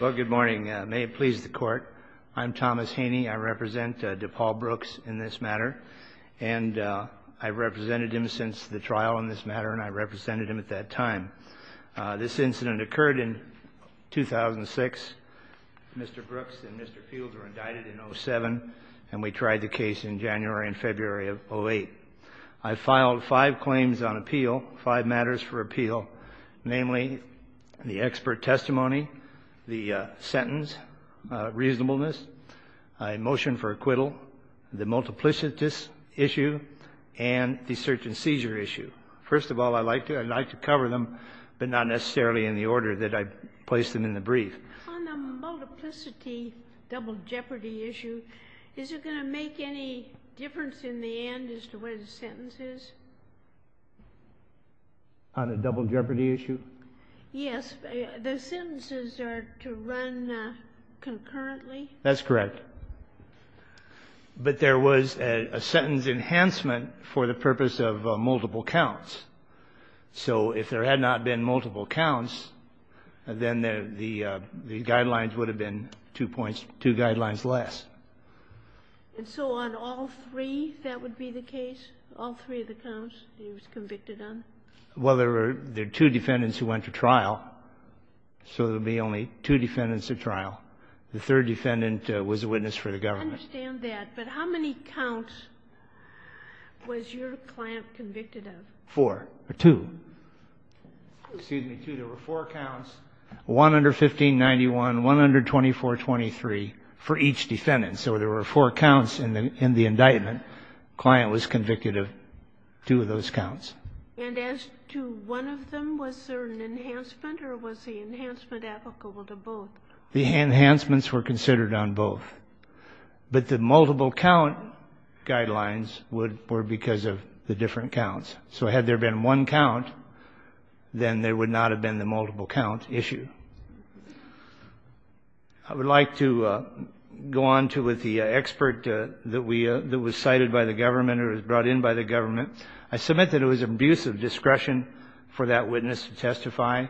Well, good morning. May it please the court. I'm Thomas Haney. I represent Depaul Brooks in this matter, and I've represented him since the trial in this matter, and I represented him at that time. This incident occurred in 2006. Mr. Brooks and Mr. Fields were indicted in 07, and we tried the case in January and February of 08. I filed five claims on appeal, five matters for appeal, namely the expert testimony, the sentence reasonableness, a motion for acquittal, the multiplicity issue, and the search and seizure issue. First of all, I'd like to cover them, but not necessarily in the order that I placed them in the brief. On the multiplicity, double jeopardy issue, is it going to make any difference in the end as to what the sentence is? On the double jeopardy issue? Yes. The sentences are to run concurrently? That's correct. But there was a sentence enhancement for the purpose of multiple counts. So if there had not been multiple counts, then the guidelines would have been two points, two guidelines less. And so on all three, that would be the case, all three of the counts he was convicted on? Well, there were two defendants who went to trial, so there would be only two defendants at trial. The third defendant was a witness for the government. I understand that, but how many counts was your client convicted of? Four, or two. Excuse me, two. There were four counts, 115-91, 124-23, for each defendant. So there were four counts in the indictment. The client was convicted of two of those counts. And as to one of them, was there an enhancement, or was the enhancement applicable to both? The enhancements were considered on both. But the multiple count guidelines were because of the different counts. So had there been one count, then there would not have been the multiple count issue. I would like to go on with the expert that was cited by the government or was brought in by the government. I submit that it was an abuse of discretion for that witness to testify.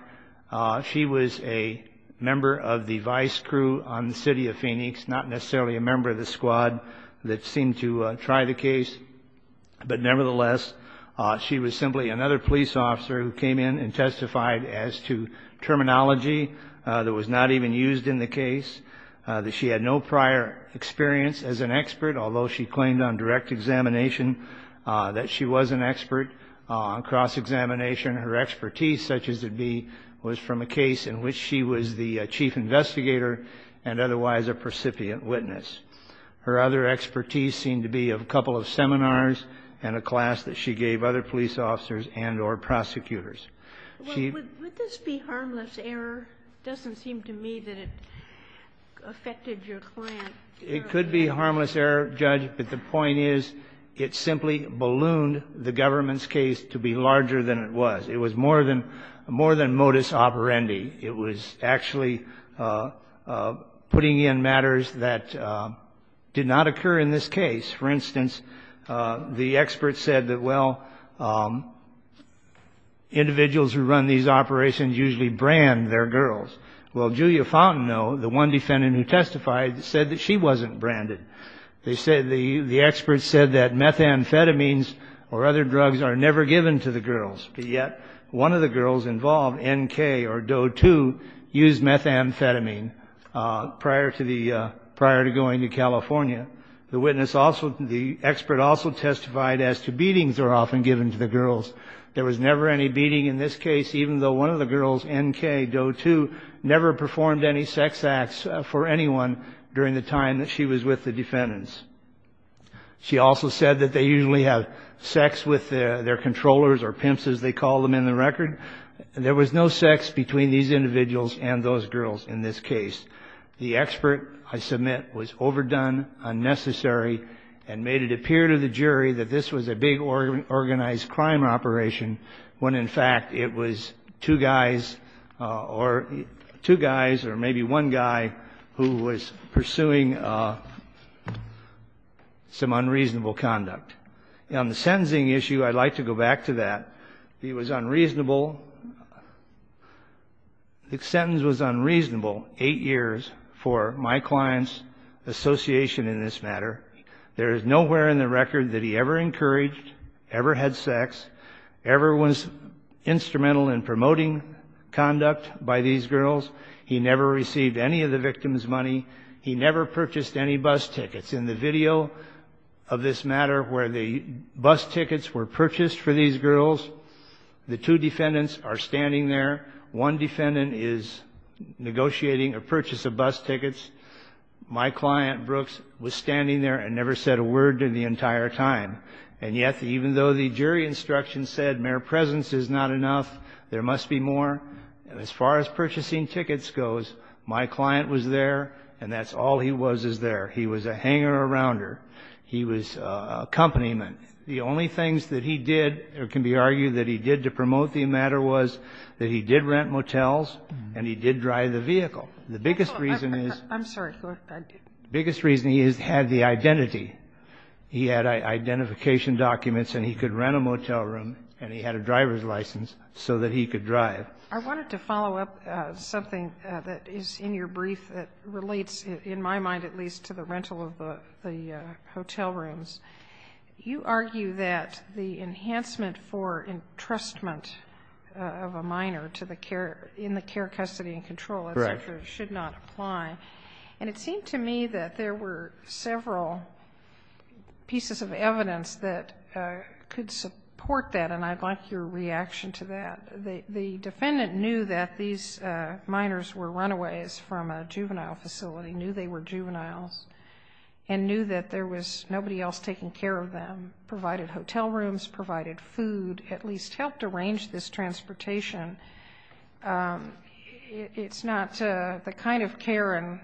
She was a member of the vice crew on the city of Phoenix, not necessarily a member of the squad that seemed to try the case. But nevertheless, she was simply another police officer who came in and testified as to terminology that was not even used in the case, that she had no prior experience as an expert, although she claimed on direct examination that she was an expert on cross-examination. Her expertise, such as it be, was from a case in which she was the chief investigator and otherwise a precipient witness. Her other expertise seemed to be a couple of seminars and a class that she gave other police officers and or prosecutors. Would this be harmless error? It doesn't seem to me that it affected your client. It could be harmless error, Judge, but the point is it simply ballooned the government's case to be larger than it was. It was more than modus operandi. It was actually putting in matters that did not occur in this case. For instance, the expert said that, well, individuals who run these operations usually brand their girls. Well, Julia Fountain, though, the one defendant who testified, said that she wasn't branded. The expert said that methamphetamines or other drugs are never given to the girls, but yet one of the girls involved, N.K. or Doe 2, used methamphetamine prior to going to California. The expert also testified as to beatings are often given to the girls. There was never any beating in this case, even though one of the girls, N.K., Doe 2, never performed any sex acts for anyone during the time that she was with the defendants. She also said that they usually have sex with their controllers or pimps, as they call them in the record. There was no sex between these individuals and those girls in this case. The expert, I submit, was overdone, unnecessary, and made it appear to the jury that this was a big organized crime operation when, in fact, it was two guys or maybe one guy who was pursuing some unreasonable conduct. On the sentencing issue, I'd like to go back to that. It was unreasonable. The sentence was unreasonable, eight years, for my client's association in this matter. There is nowhere in the record that he ever encouraged, ever had sex, ever was instrumental in promoting conduct by these girls. He never received any of the victims' money. He never purchased any bus tickets. In the video of this matter where the bus tickets were purchased for these girls, the two defendants are standing there. One defendant is negotiating a purchase of bus tickets. My client, Brooks, was standing there and never said a word the entire time. And yet, even though the jury instruction said mere presence is not enough, there must be more, as far as purchasing tickets goes, my client was there, and that's all he was, is there. He was a hanger-arounder. He was an accompaniment. The only things that he did, or can be argued that he did to promote the matter, was that he did rent motels and he did drive the vehicle. The biggest reason is he had the identity. He had identification documents and he could rent a motel room and he had a driver's license so that he could drive. I wanted to follow up something that is in your brief that relates, in my mind at least, to the rental of the hotel rooms. You argue that the enhancement for entrustment of a minor to the care, in the care, custody and control, et cetera, should not apply. And it seemed to me that there were several pieces of evidence that could support that, and I'd like your reaction to that. The defendant knew that these minors were runaways from a juvenile facility, knew they were juveniles, and knew that there was nobody else taking care of them, provided hotel rooms, provided food, at least helped arrange this transportation. It's not the kind of care and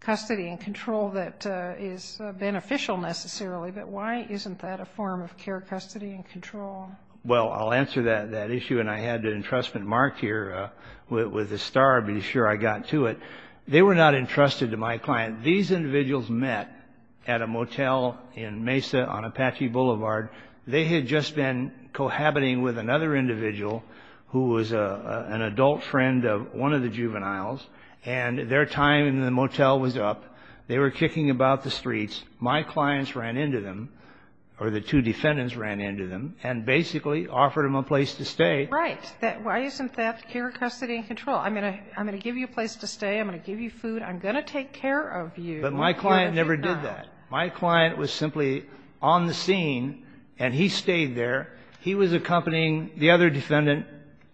custody and control that is beneficial necessarily, but why isn't that a form of care, custody and control? Well, I'll answer that issue. And I had an entrustment marked here with a star to be sure I got to it. They were not entrusted to my client. These individuals met at a motel in Mesa on Apache Boulevard. They had just been cohabiting with another individual who was an adult friend of one of the juveniles, and their time in the motel was up. They were kicking about the streets. My clients ran into them, or the two defendants ran into them, and basically offered them a place to stay. Right. Why isn't that care, custody and control? I'm going to give you a place to stay. I'm going to give you food. I'm going to take care of you. But my client never did that. My client was simply on the scene, and he stayed there. He was accompanying the other defendant.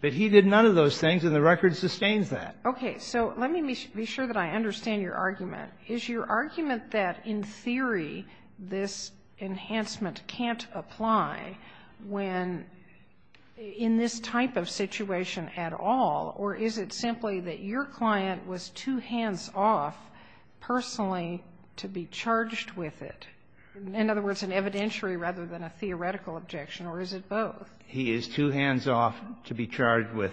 But he did none of those things, and the record sustains that. Okay. So let me be sure that I understand your argument. Is your argument that, in theory, this enhancement can't apply when, in this type of situation at all, or is it simply that your client was too hands-off personally to be charged with it? In other words, an evidentiary rather than a theoretical objection, or is it both? He is too hands-off to be charged with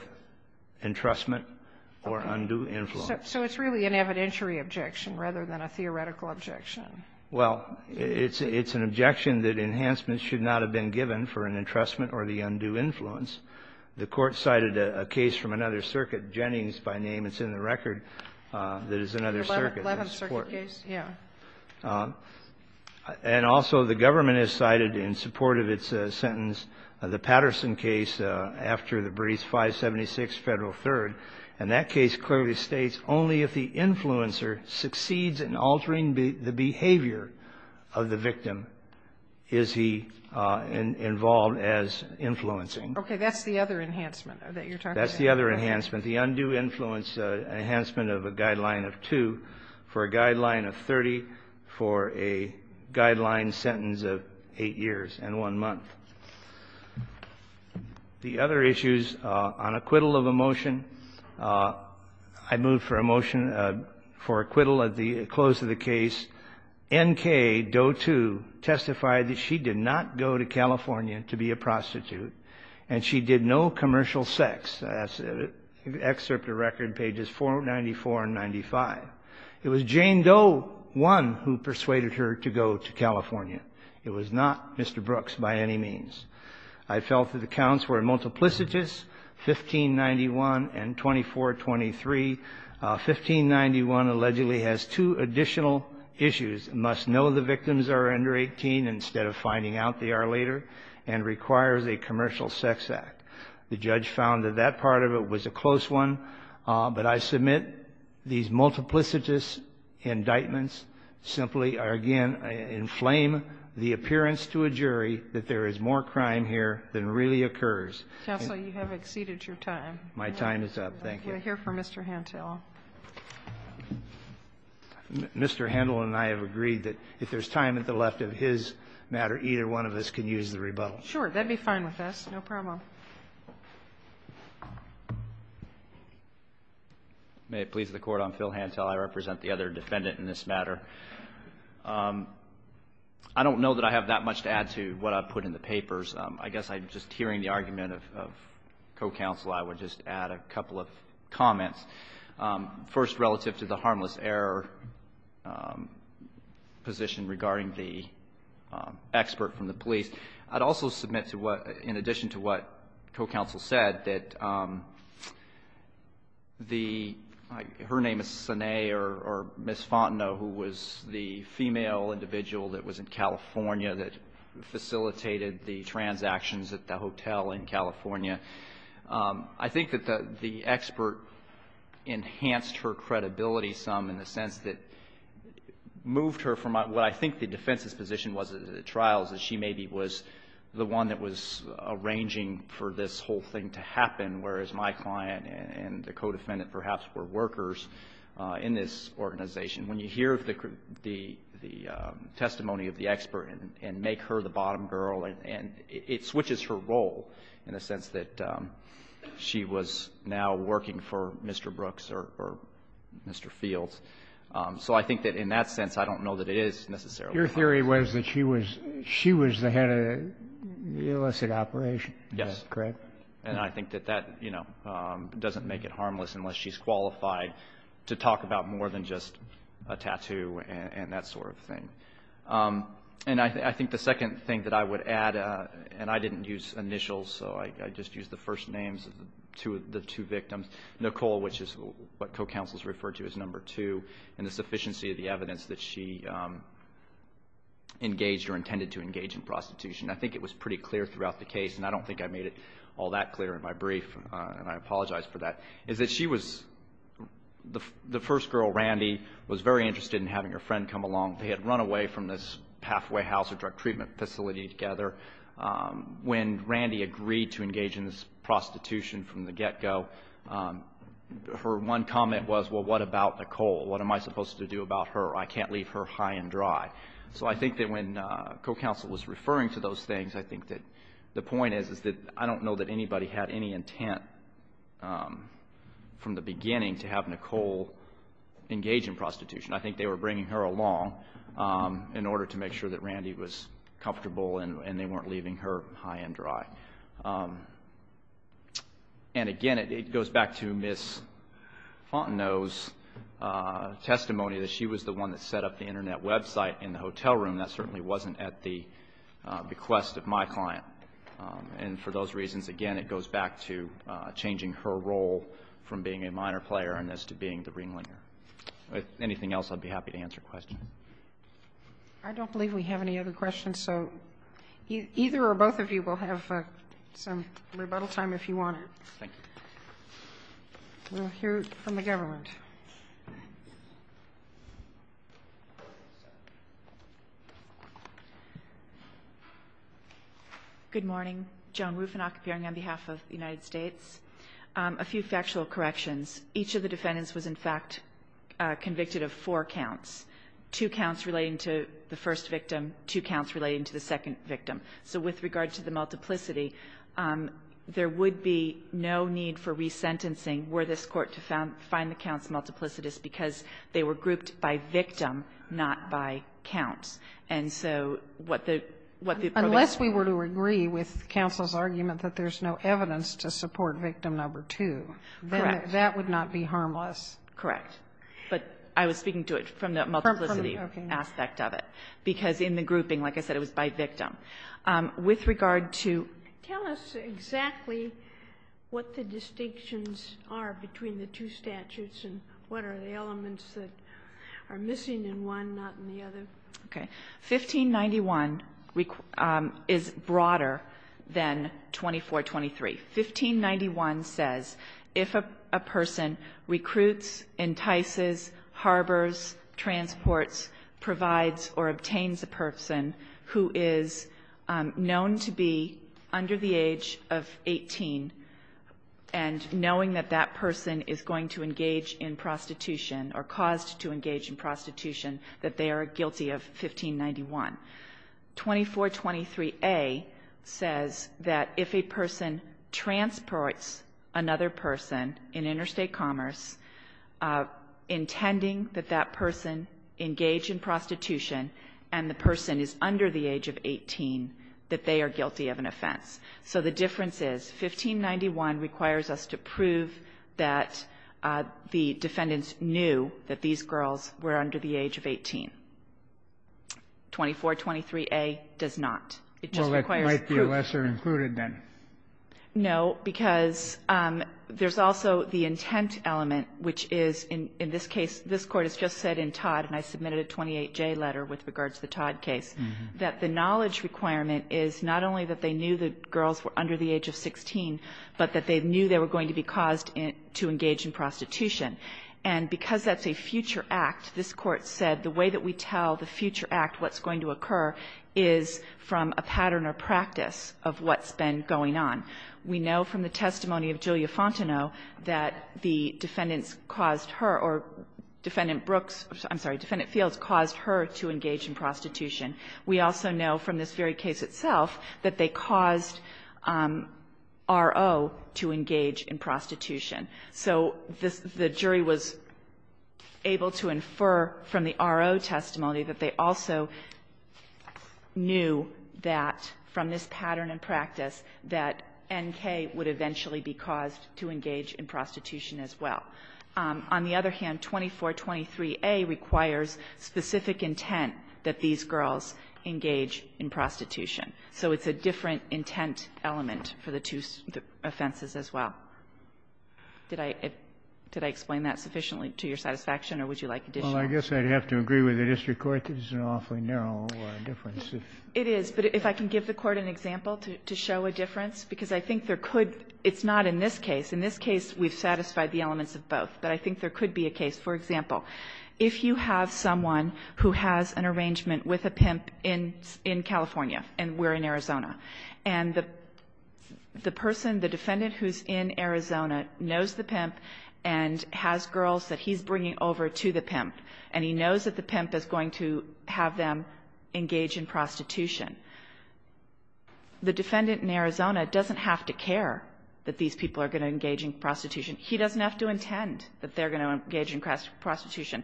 entrustment or undue influence. So it's really an evidentiary objection rather than a theoretical objection. Well, it's an objection that enhancements should not have been given for an entrustment or the undue influence. The Court cited a case from another circuit, Jennings by name. It's in the record that is another circuit. The 11th Circuit case. Yeah. And also the government has cited in support of its sentence the Patterson case after the briefs, 576 Federal 3rd. And that case clearly states only if the influencer succeeds in altering the behavior of the victim is he involved as influencing. Okay. That's the other enhancement that you're talking about. That's the other enhancement. The undue influence enhancement of a guideline of 2 for a guideline of 30 for a guideline sentence of 8 years and 1 month. The other issues on acquittal of a motion. I move for a motion for acquittal at the close of the case. N.K., Doe 2, testified that she did not go to California to be a prostitute and she did no commercial sex. That's excerpt of record pages 494 and 95. It was Jane Doe 1 who persuaded her to go to California. It was not Mr. Brooks by any means. I felt that the counts were multiplicitous, 1591 and 2423. 1591 allegedly has two additional issues, must know the victims are under 18 instead of finding out they are later, and requires a commercial sex act. The judge found that that part of it was a close one, but I submit these multiplicitous indictments simply are, again, inflame the appearance to a jury that there is more crime here than really occurs. Counsel, you have exceeded your time. My time is up. Thank you. We're here for Mr. Handel. Mr. Handel and I have agreed that if there's time at the left of his matter, either one of us can use the rebuttal. Sure. That would be fine with us. No problem. May it please the Court. I'm Phil Handel. I represent the other defendant in this matter. I don't know that I have that much to add to what I put in the papers. I guess I'm just hearing the argument of co-counsel. I would just add a couple of comments. First, relative to the harmless error position regarding the expert from the police, I'd also submit to what, in addition to what co-counsel said, that the, her name is Sine or Ms. Fontenot, who was the female individual that was in California that facilitated I think that the expert enhanced her credibility some, in the sense that moved her from what I think the defense's position was at the trials, that she maybe was the one that was arranging for this whole thing to happen, whereas my client and the co-defendant perhaps were workers in this organization. When you hear the testimony of the expert and make her the bottom girl, and it switches her role in the sense that she was now working for Mr. Brooks or Mr. Fields. So I think that in that sense, I don't know that it is necessarily harmless. Your theory was that she was the head of the illicit operation. Yes. Is that correct? And I think that that, you know, doesn't make it harmless unless she's qualified to talk about more than just a tattoo and that sort of thing. And I think the second thing that I would add, and I didn't use initials, so I just used the first names of the two victims, Nicole, which is what co-counsels referred to as number two, and the sufficiency of the evidence that she engaged or intended to engage in prostitution. I think it was pretty clear throughout the case, and I don't think I made it all that clear in my brief, and I apologize for that, is that she was, the first girl, Randy, was very interested in having her friend come along. They had run away from this pathway house or drug treatment facility together. When Randy agreed to engage in this prostitution from the get-go, her one comment was, well, what about Nicole? What am I supposed to do about her? I can't leave her high and dry. So I think that when co-counsel was referring to those things, I think that the point is that I don't know that anybody had any intent from the beginning to have Nicole engage in prostitution. I think they were bringing her along in order to make sure that Randy was comfortable and they weren't leaving her high and dry. And again, it goes back to Ms. Fontenot's testimony that she was the one that set up the Internet website in the hotel room. That certainly wasn't at the bequest of my client. And for those reasons, again, it goes back to changing her role from being a minor player and as to being the ringlinger. If anything else, I'd be happy to answer questions. I don't believe we have any other questions. So either or both of you will have some rebuttal time if you want to. Thank you. We'll hear from the government. Good morning. Joan Rufinock appearing on behalf of the United States. A few factual corrections. Each of the defendants was, in fact, convicted of four counts, two counts relating to the first victim, two counts relating to the second victim. So with regard to the multiplicity, there would be no need for resentencing were this Court to find the counts multiplicitous because they were grouped by victim, not by counts. And so what the Provost said was the same. That would not be harmless. Correct. But I was speaking to it from the multiplicity aspect of it. Because in the grouping, like I said, it was by victim. With regard to ---- Tell us exactly what the distinctions are between the two statutes and what are the elements that are missing in one, not in the other. Okay. 1591 is broader than 2423. 1591 says if a person recruits, entices, harbors, transports, provides, or obtains a person who is known to be under the age of 18, and knowing that that person is going to engage in prostitution or caused to engage in prostitution, that they are guilty of 1591. 2423a says that if a person transports another person in interstate commerce intending that that person engage in prostitution and the person is under the age of 18, that they are guilty of an offense. So the difference is 1591 requires us to prove that the defendants knew that these girls were under the age of 18. 2423a does not. It just requires proof. Well, it might be a lesser included, then. No, because there's also the intent element, which is in this case, this Court has just said in Todd, and I submitted a 28J letter with regard to the Todd case, that the knowledge requirement is not only that they knew the girls were under the age of 16, but that they knew they were going to be caused to engage in prostitution. And because that's a future act, this Court said the way that we tell the future act what's going to occur is from a pattern or practice of what's been going on. We know from the testimony of Julia Fontenot that the defendants caused her or Defendant Brooks, I'm sorry, Defendant Fields caused her to engage in prostitution. We also know from this very case itself that they caused R.O. to engage in prostitution. So this the jury was able to infer from the R.O. testimony that they also knew that from this pattern and practice that N.K. would eventually be caused to engage in prostitution as well. On the other hand, 2423a requires specific intent that these girls engage in prostitution. So it's a different intent element for the two offenses as well. Did I explain that sufficiently to your satisfaction, or would you like additional? Well, I guess I'd have to agree with the district court. This is an awfully narrow difference. It is. But if I can give the Court an example to show a difference, because I think there could be an example. It's not in this case. In this case, we've satisfied the elements of both. But I think there could be a case. For example, if you have someone who has an arrangement with a pimp in California and we're in Arizona, and the person, the defendant who's in Arizona knows the pimp and has girls that he's bringing over to the pimp, and he knows that the pimp is going to have them engage in prostitution, the defendant in Arizona doesn't have to care that these people are going to engage in prostitution. He doesn't have to intend that they're going to engage in prostitution.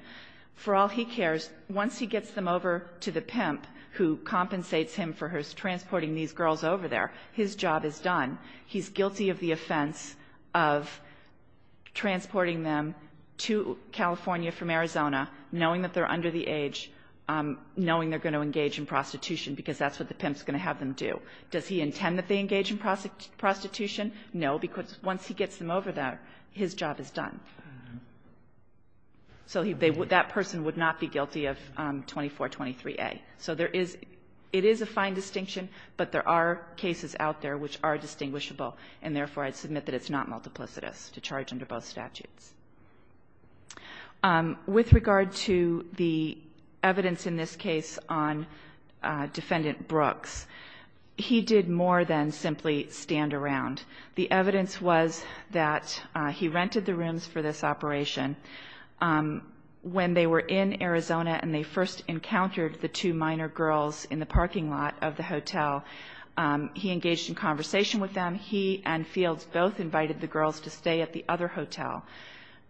For all he cares, once he gets them over to the pimp, who compensates him for his transporting these girls over there, his job is done. He's guilty of the offense of transporting them to California from Arizona, knowing that they're under the age, knowing they're going to engage in prostitution, because that's what the pimp's going to have them do. Does he intend that they engage in prostitution? No, because once he gets them over there, his job is done. So that person would not be guilty of 2423A. So there is – it is a fine distinction, but there are cases out there which are distinguishable, and therefore, I'd submit that it's not multiplicitous to charge under both statutes. With regard to the evidence in this case on Defendant Brooks, he did more than simply stand around. The evidence was that he rented the rooms for this operation. When they were in Arizona and they first encountered the two minor girls in the parking lot of the hotel, he engaged in conversation with them. He and Fields both invited the girls to stay at the other hotel.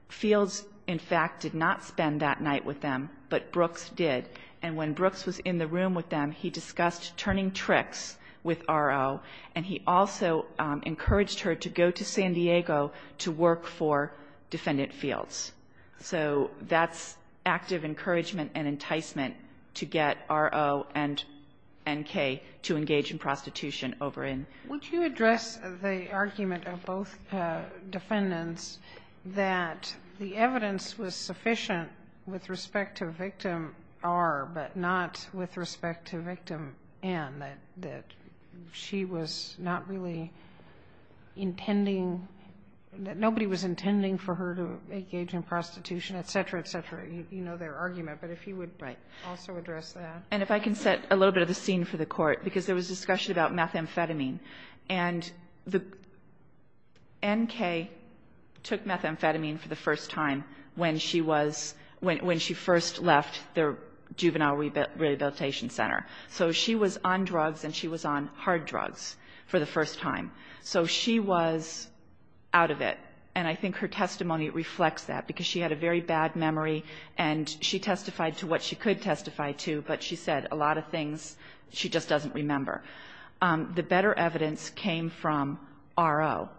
Fields, in fact, did not spend that night with them, but Brooks did. And when Brooks was in the room with them, he discussed turning tricks with RO, and he also encouraged her to go to San Diego to work for Defendant Fields. So that's active encouragement and enticement to get RO and N.K. to engage in prostitution over in San Diego. Would you address the argument of both defendants that the evidence was sufficient with respect to victim R, but not with respect to victim N, that she was not really intending, that nobody was intending for her to engage in prostitution, et cetera, et cetera? You know their argument, but if you would also address that. And if I can set a little bit of the scene for the Court, because there was discussion about methamphetamine, and N.K. took methamphetamine for the first time when she was, when she first left the Juvenile Rehabilitation Center. So she was on drugs, and she was on hard drugs for the first time. So she was out of it. And I think her testimony reflects that, because she had a very bad memory, and she testified to what she could testify to, but she said a lot of things she just doesn't remember. The better evidence came from RO.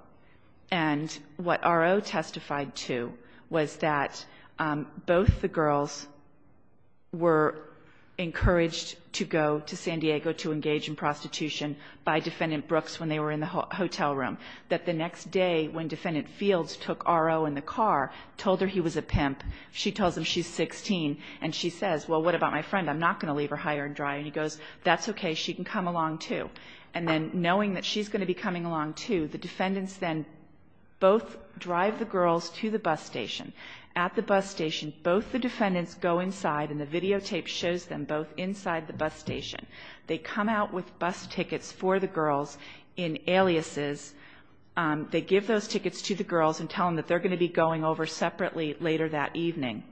And what RO testified to was that both the girls were encouraged to go to San Diego to engage in prostitution by Defendant Brooks when they were in the hotel room, that the next day when Defendant Fields took RO in the car, told her he was a pimp, she tells him she's 16, and she says, well, what about my friend? I'm not going to leave her high and dry. And he goes, that's okay. She can come along, too. And then knowing that she's going to be coming along, too, the defendants then both drive the girls to the bus station. At the bus station, both the defendants go inside, and the videotape shows them both inside the bus station. They come out with bus tickets for the girls in aliases. They give those tickets to the girls and tell them that they're going to be going over separately later that evening.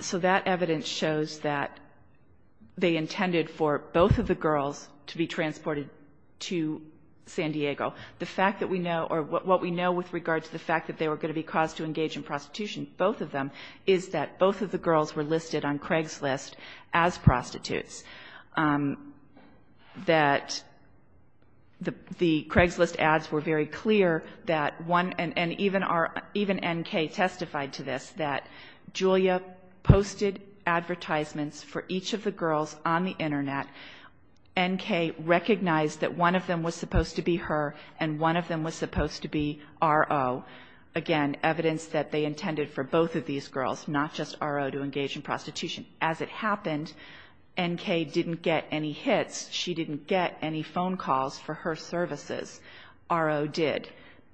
So that evidence shows that they intended for both of the girls to be transported to San Diego. The fact that we know, or what we know with regard to the fact that they were going to be caused to engage in prostitution, both of them, is that both of the girls were listed on Craigslist as prostitutes, that the Craigslist ads were very clear that one of the girls, and even N.K. testified to this, that Julia posted advertisements for each of the girls on the Internet. N.K. recognized that one of them was supposed to be her, and one of them was supposed to be R.O. Again, evidence that they intended for both of these girls, not just R.O., to engage in prostitution. As it happened, N.K. didn't get any hits. She didn't get any phone calls for her services. R.O. did.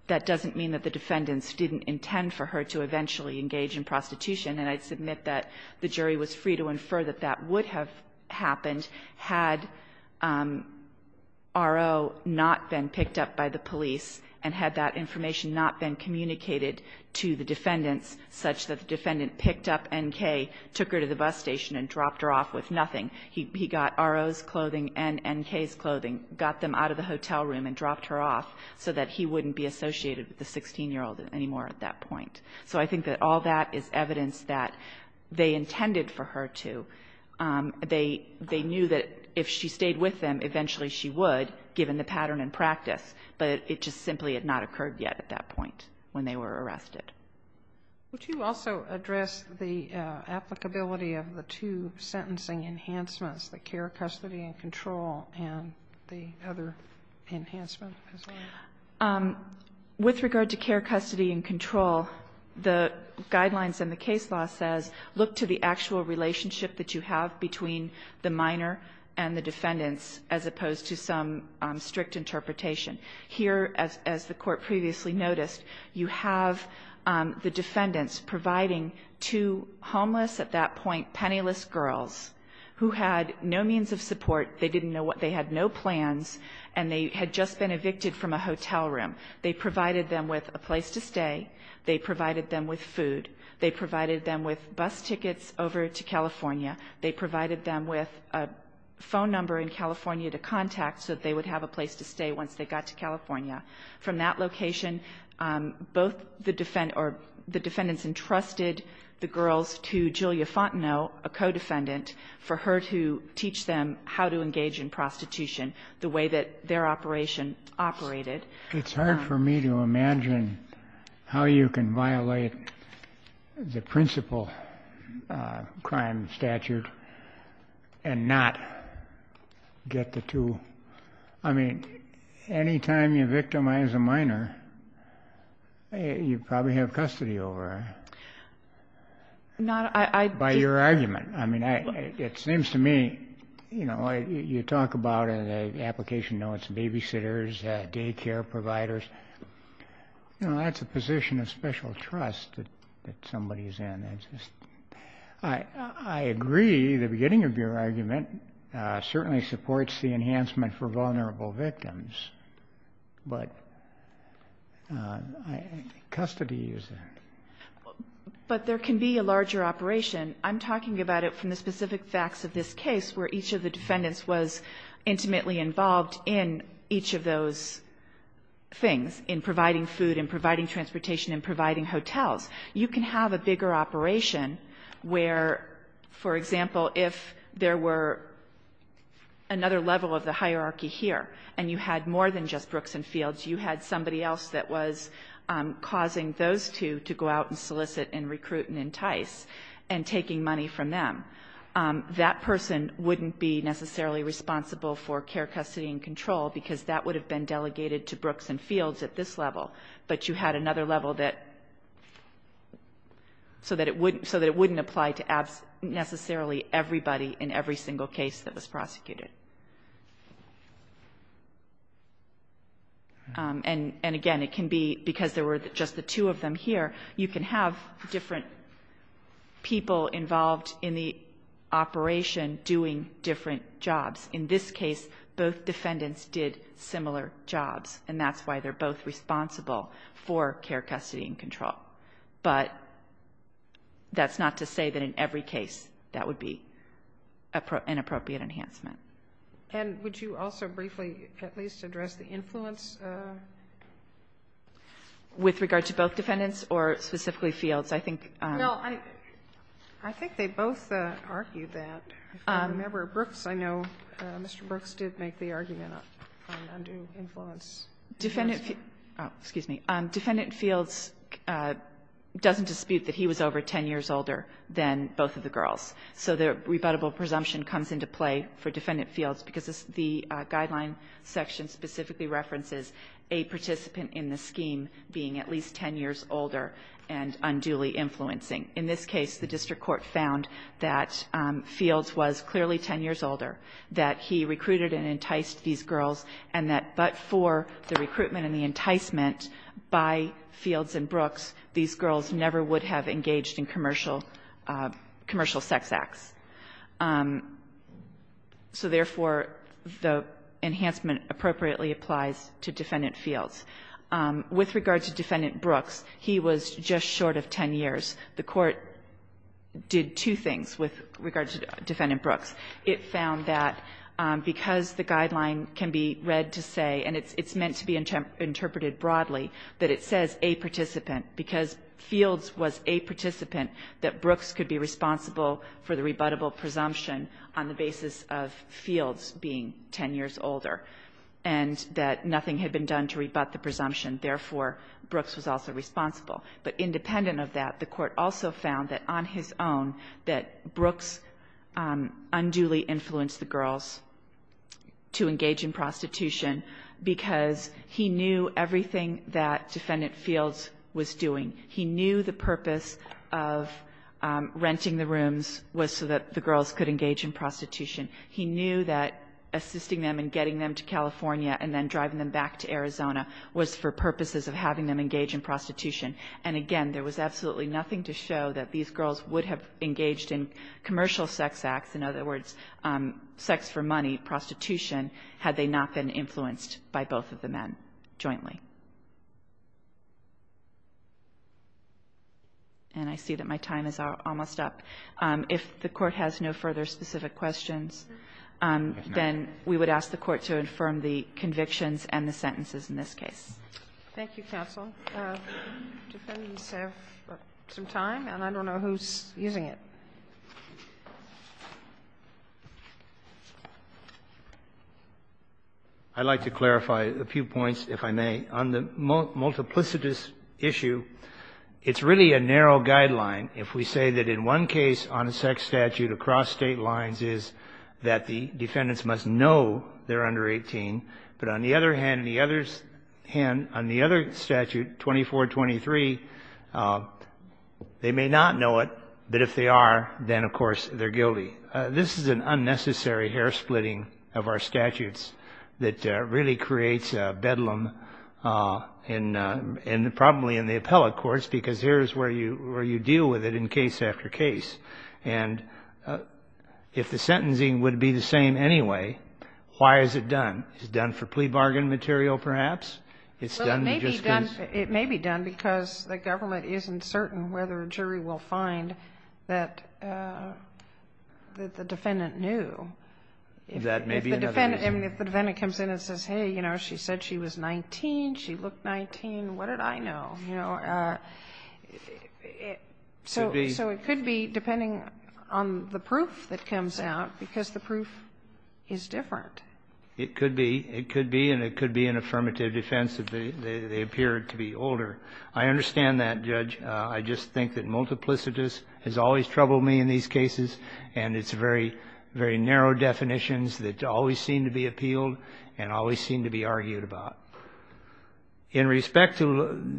That doesn't mean that the defendants didn't intend for her to eventually engage in prostitution, and I submit that the jury was free to infer that that would have happened had R.O. not been picked up by the police and had that information not been communicated to the defendants, such that the defendant picked up N.K., took her to the bus station, and dropped her off with nothing. He got R.O.'s clothing and N.K.'s clothing, got them out of the hotel room and dropped her off so that he wouldn't be associated with the 16-year-old anymore at that point. So I think that all that is evidence that they intended for her to. They knew that if she stayed with them, eventually she would, given the pattern and practice, but it just simply had not occurred yet at that point when they were arrested. Would you also address the applicability of the two sentencing enhancements, the care, custody and control, and the other enhancement as well? With regard to care, custody and control, the guidelines in the case law says look to the actual relationship that you have between the minor and the defendants, as opposed to some strict interpretation. Here, as the Court previously noticed, you have the defendants providing two homeless at that point penniless girls who had no means of support. They had no plans, and they had just been evicted from a hotel room. They provided them with a place to stay. They provided them with food. They provided them with bus tickets over to California. They provided them with a phone number in California to contact so that they would have a place to stay once they got to California. From that location, both the defendants entrusted the girls to Julia Fontenot, a co-defendant, for her to teach them how to engage in prostitution, the way that their operation operated. It's hard for me to imagine how you can violate the principal crime statute and not get the two. I mean, any time you victimize a minor, you probably have custody over her. By your argument. I mean, it seems to me, you know, you talk about in the application notes babysitters, daycare providers. You know, that's a position of special trust that somebody is in. I agree the beginning of your argument certainly supports the enhancement for vulnerable victims. But custody is there. But there can be a larger operation. I'm talking about it from the specific facts of this case where each of the defendants was intimately involved in each of those things, in providing food and providing transportation and providing hotels. You can have a bigger operation where, for example, if there were another level of the hierarchy here and you had more than just Brooks and Fields, you had somebody else that was causing those two to go out and solicit and recruit and entice and taking money from them. That person wouldn't be necessarily responsible for care, custody and control, because that would have been delegated to Brooks and Fields at this level. But you had another level that so that it wouldn't apply to necessarily everybody in every single case that was prosecuted. And again, it can be because there were just the two of them here, you can have different people involved in the operation doing different jobs. In this case, both defendants did similar jobs, and that's why they're both responsible for care, custody and control. But that's not to say that in every case that would be an appropriate enhancement. And would you also briefly at least address the influence? With regard to both defendants or specifically Fields? I think they both argued that. If you remember Brooks, I know Mr. Brooks did make the argument on undue influence. Defendant Fields doesn't dispute that he was over 10 years older than both of the girls, so the rebuttable presumption comes into play for Defendant Fields because the guideline section specifically references a participant in the scheme being at least 10 years older and unduly influencing. In this case, the district court found that Fields was clearly 10 years older, that he recruited and enticed these girls, and that but for the recruitment and the enticement by Fields and Brooks, these girls never would have engaged in commercial sex acts. So therefore, the enhancement appropriately applies to Defendant Fields. With regard to Defendant Brooks, he was just short of 10 years. The Court did two things with regard to Defendant Brooks. It found that because the guideline can be read to say, and it's meant to be interpreted broadly, that it says a participant, because Fields was a participant, that Brooks could be responsible for the rebuttable presumption on the basis of Fields being 10 years older, and that nothing had been done to rebut the presumption. Therefore, Brooks was also responsible. But independent of that, the Court also found that on his own that Brooks unduly influenced the girls to engage in prostitution because he knew everything that Defendant Fields was doing. He knew the purpose of renting the rooms was so that the girls could engage in prostitution. He knew that assisting them in getting them to California and then driving them back to Arizona was for purposes of having them engage in prostitution. And again, there was absolutely nothing to show that these girls would have engaged in commercial sex acts, in other words, sex for money, prostitution, had they not been influenced by both of the men jointly. And I see that my time is almost up. If the Court has no further specific questions, then we would ask the Court to affirm the convictions and the sentences in this case. Thank you, counsel. Defendants have some time, and I don't know who's using it. I'd like to clarify a few points, if I may. On the multiplicitous issue, it's really a narrow guideline. If we say that in one case on a sex statute across State lines is that the defendants must know they're under 18, but on the other hand, on the other statute, 2423, they may not know it, but if they are, then, of course, they're guilty. This is an unnecessary hair-splitting of our statutes that really creates bedlam, probably in the appellate courts, because here's where you deal with it in case after case. And if the sentencing would be the same anyway, why is it done? Is it done for plea bargain material, perhaps? It's done just because the government isn't certain whether a jury will find that the defendant knew. That may be another reason. If the defendant comes in and says, hey, you know, she said she was 19, she looked 19, what did I know? You know, so it could be, depending on the proof that comes out, because the proof is different. It could be. It could be, and it could be an affirmative defense that they appear to be older. I understand that, Judge. I just think that multiplicitous has always troubled me in these cases, and it's very, very narrow definitions that always seem to be appealed and always seem to be argued about. In respect to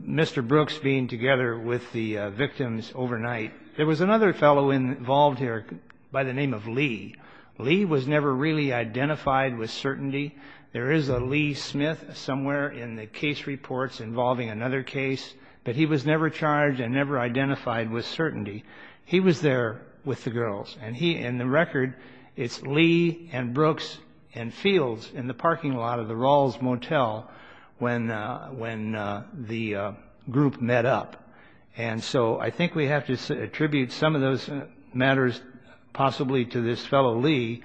Mr. Brooks being together with the victims overnight, there was another fellow involved here by the name of Lee. Lee was never really identified with certainty. There is a Lee Smith somewhere in the case reports involving another case, but he was never charged and never identified with certainty. He was there with the girls. And he, in the record, it's Lee and Brooks and Fields in the parking lot of the Rawls Motel when the group met up. And so I think we have to attribute some of those matters possibly to this fellow, Lee,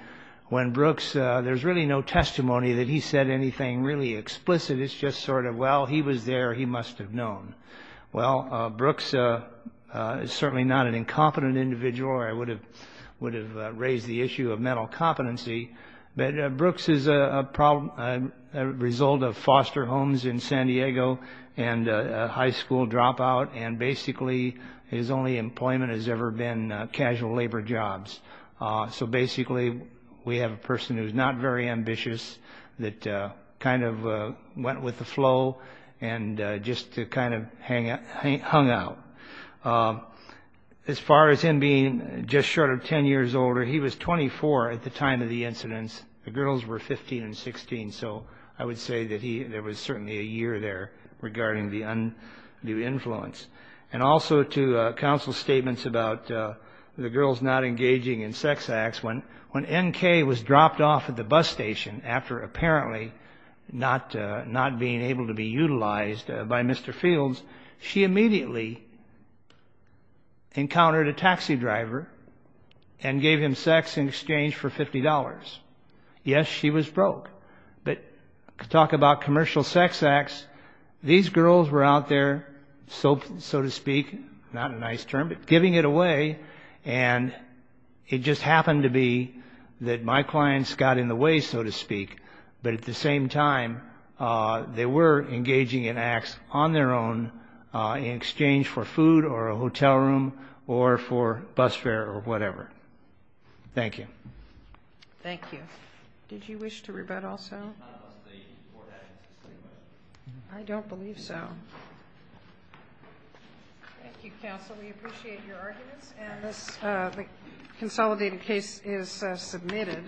when Brooks, there's really no testimony that he said anything really explicit. It's just sort of, well, he was there, he must have known. Well, Brooks is certainly not an incompetent individual, or I would have raised the issue of mental competency. But Brooks is a result of foster homes in San Diego and a high school dropout, and basically his only employment has ever been casual labor jobs. So basically, we have a person who's not very ambitious that kind of went with the flow and just kind of hung out. As far as him being just short of 10 years older, he was 24 at the time of the incidents. The girls were 15 and 16. So I would say that there was certainly a year there regarding the undue influence. And also to counsel statements about the girls not engaging in sex acts, when N.K. was dropped and unable to be utilized by Mr. Fields, she immediately encountered a taxi driver and gave him sex in exchange for $50. Yes, she was broke. But talk about commercial sex acts. These girls were out there, so to speak, not a nice term, but giving it away. And it just happened to be that my clients got in the way, so to speak. But at the same time, they were engaging in acts on their own in exchange for food or a hotel room or for bus fare or whatever. Thank you. Thank you. Did you wish to rebut also? I don't believe so. Thank you, counsel. We appreciate your arguments. And this consolidated case is submitted.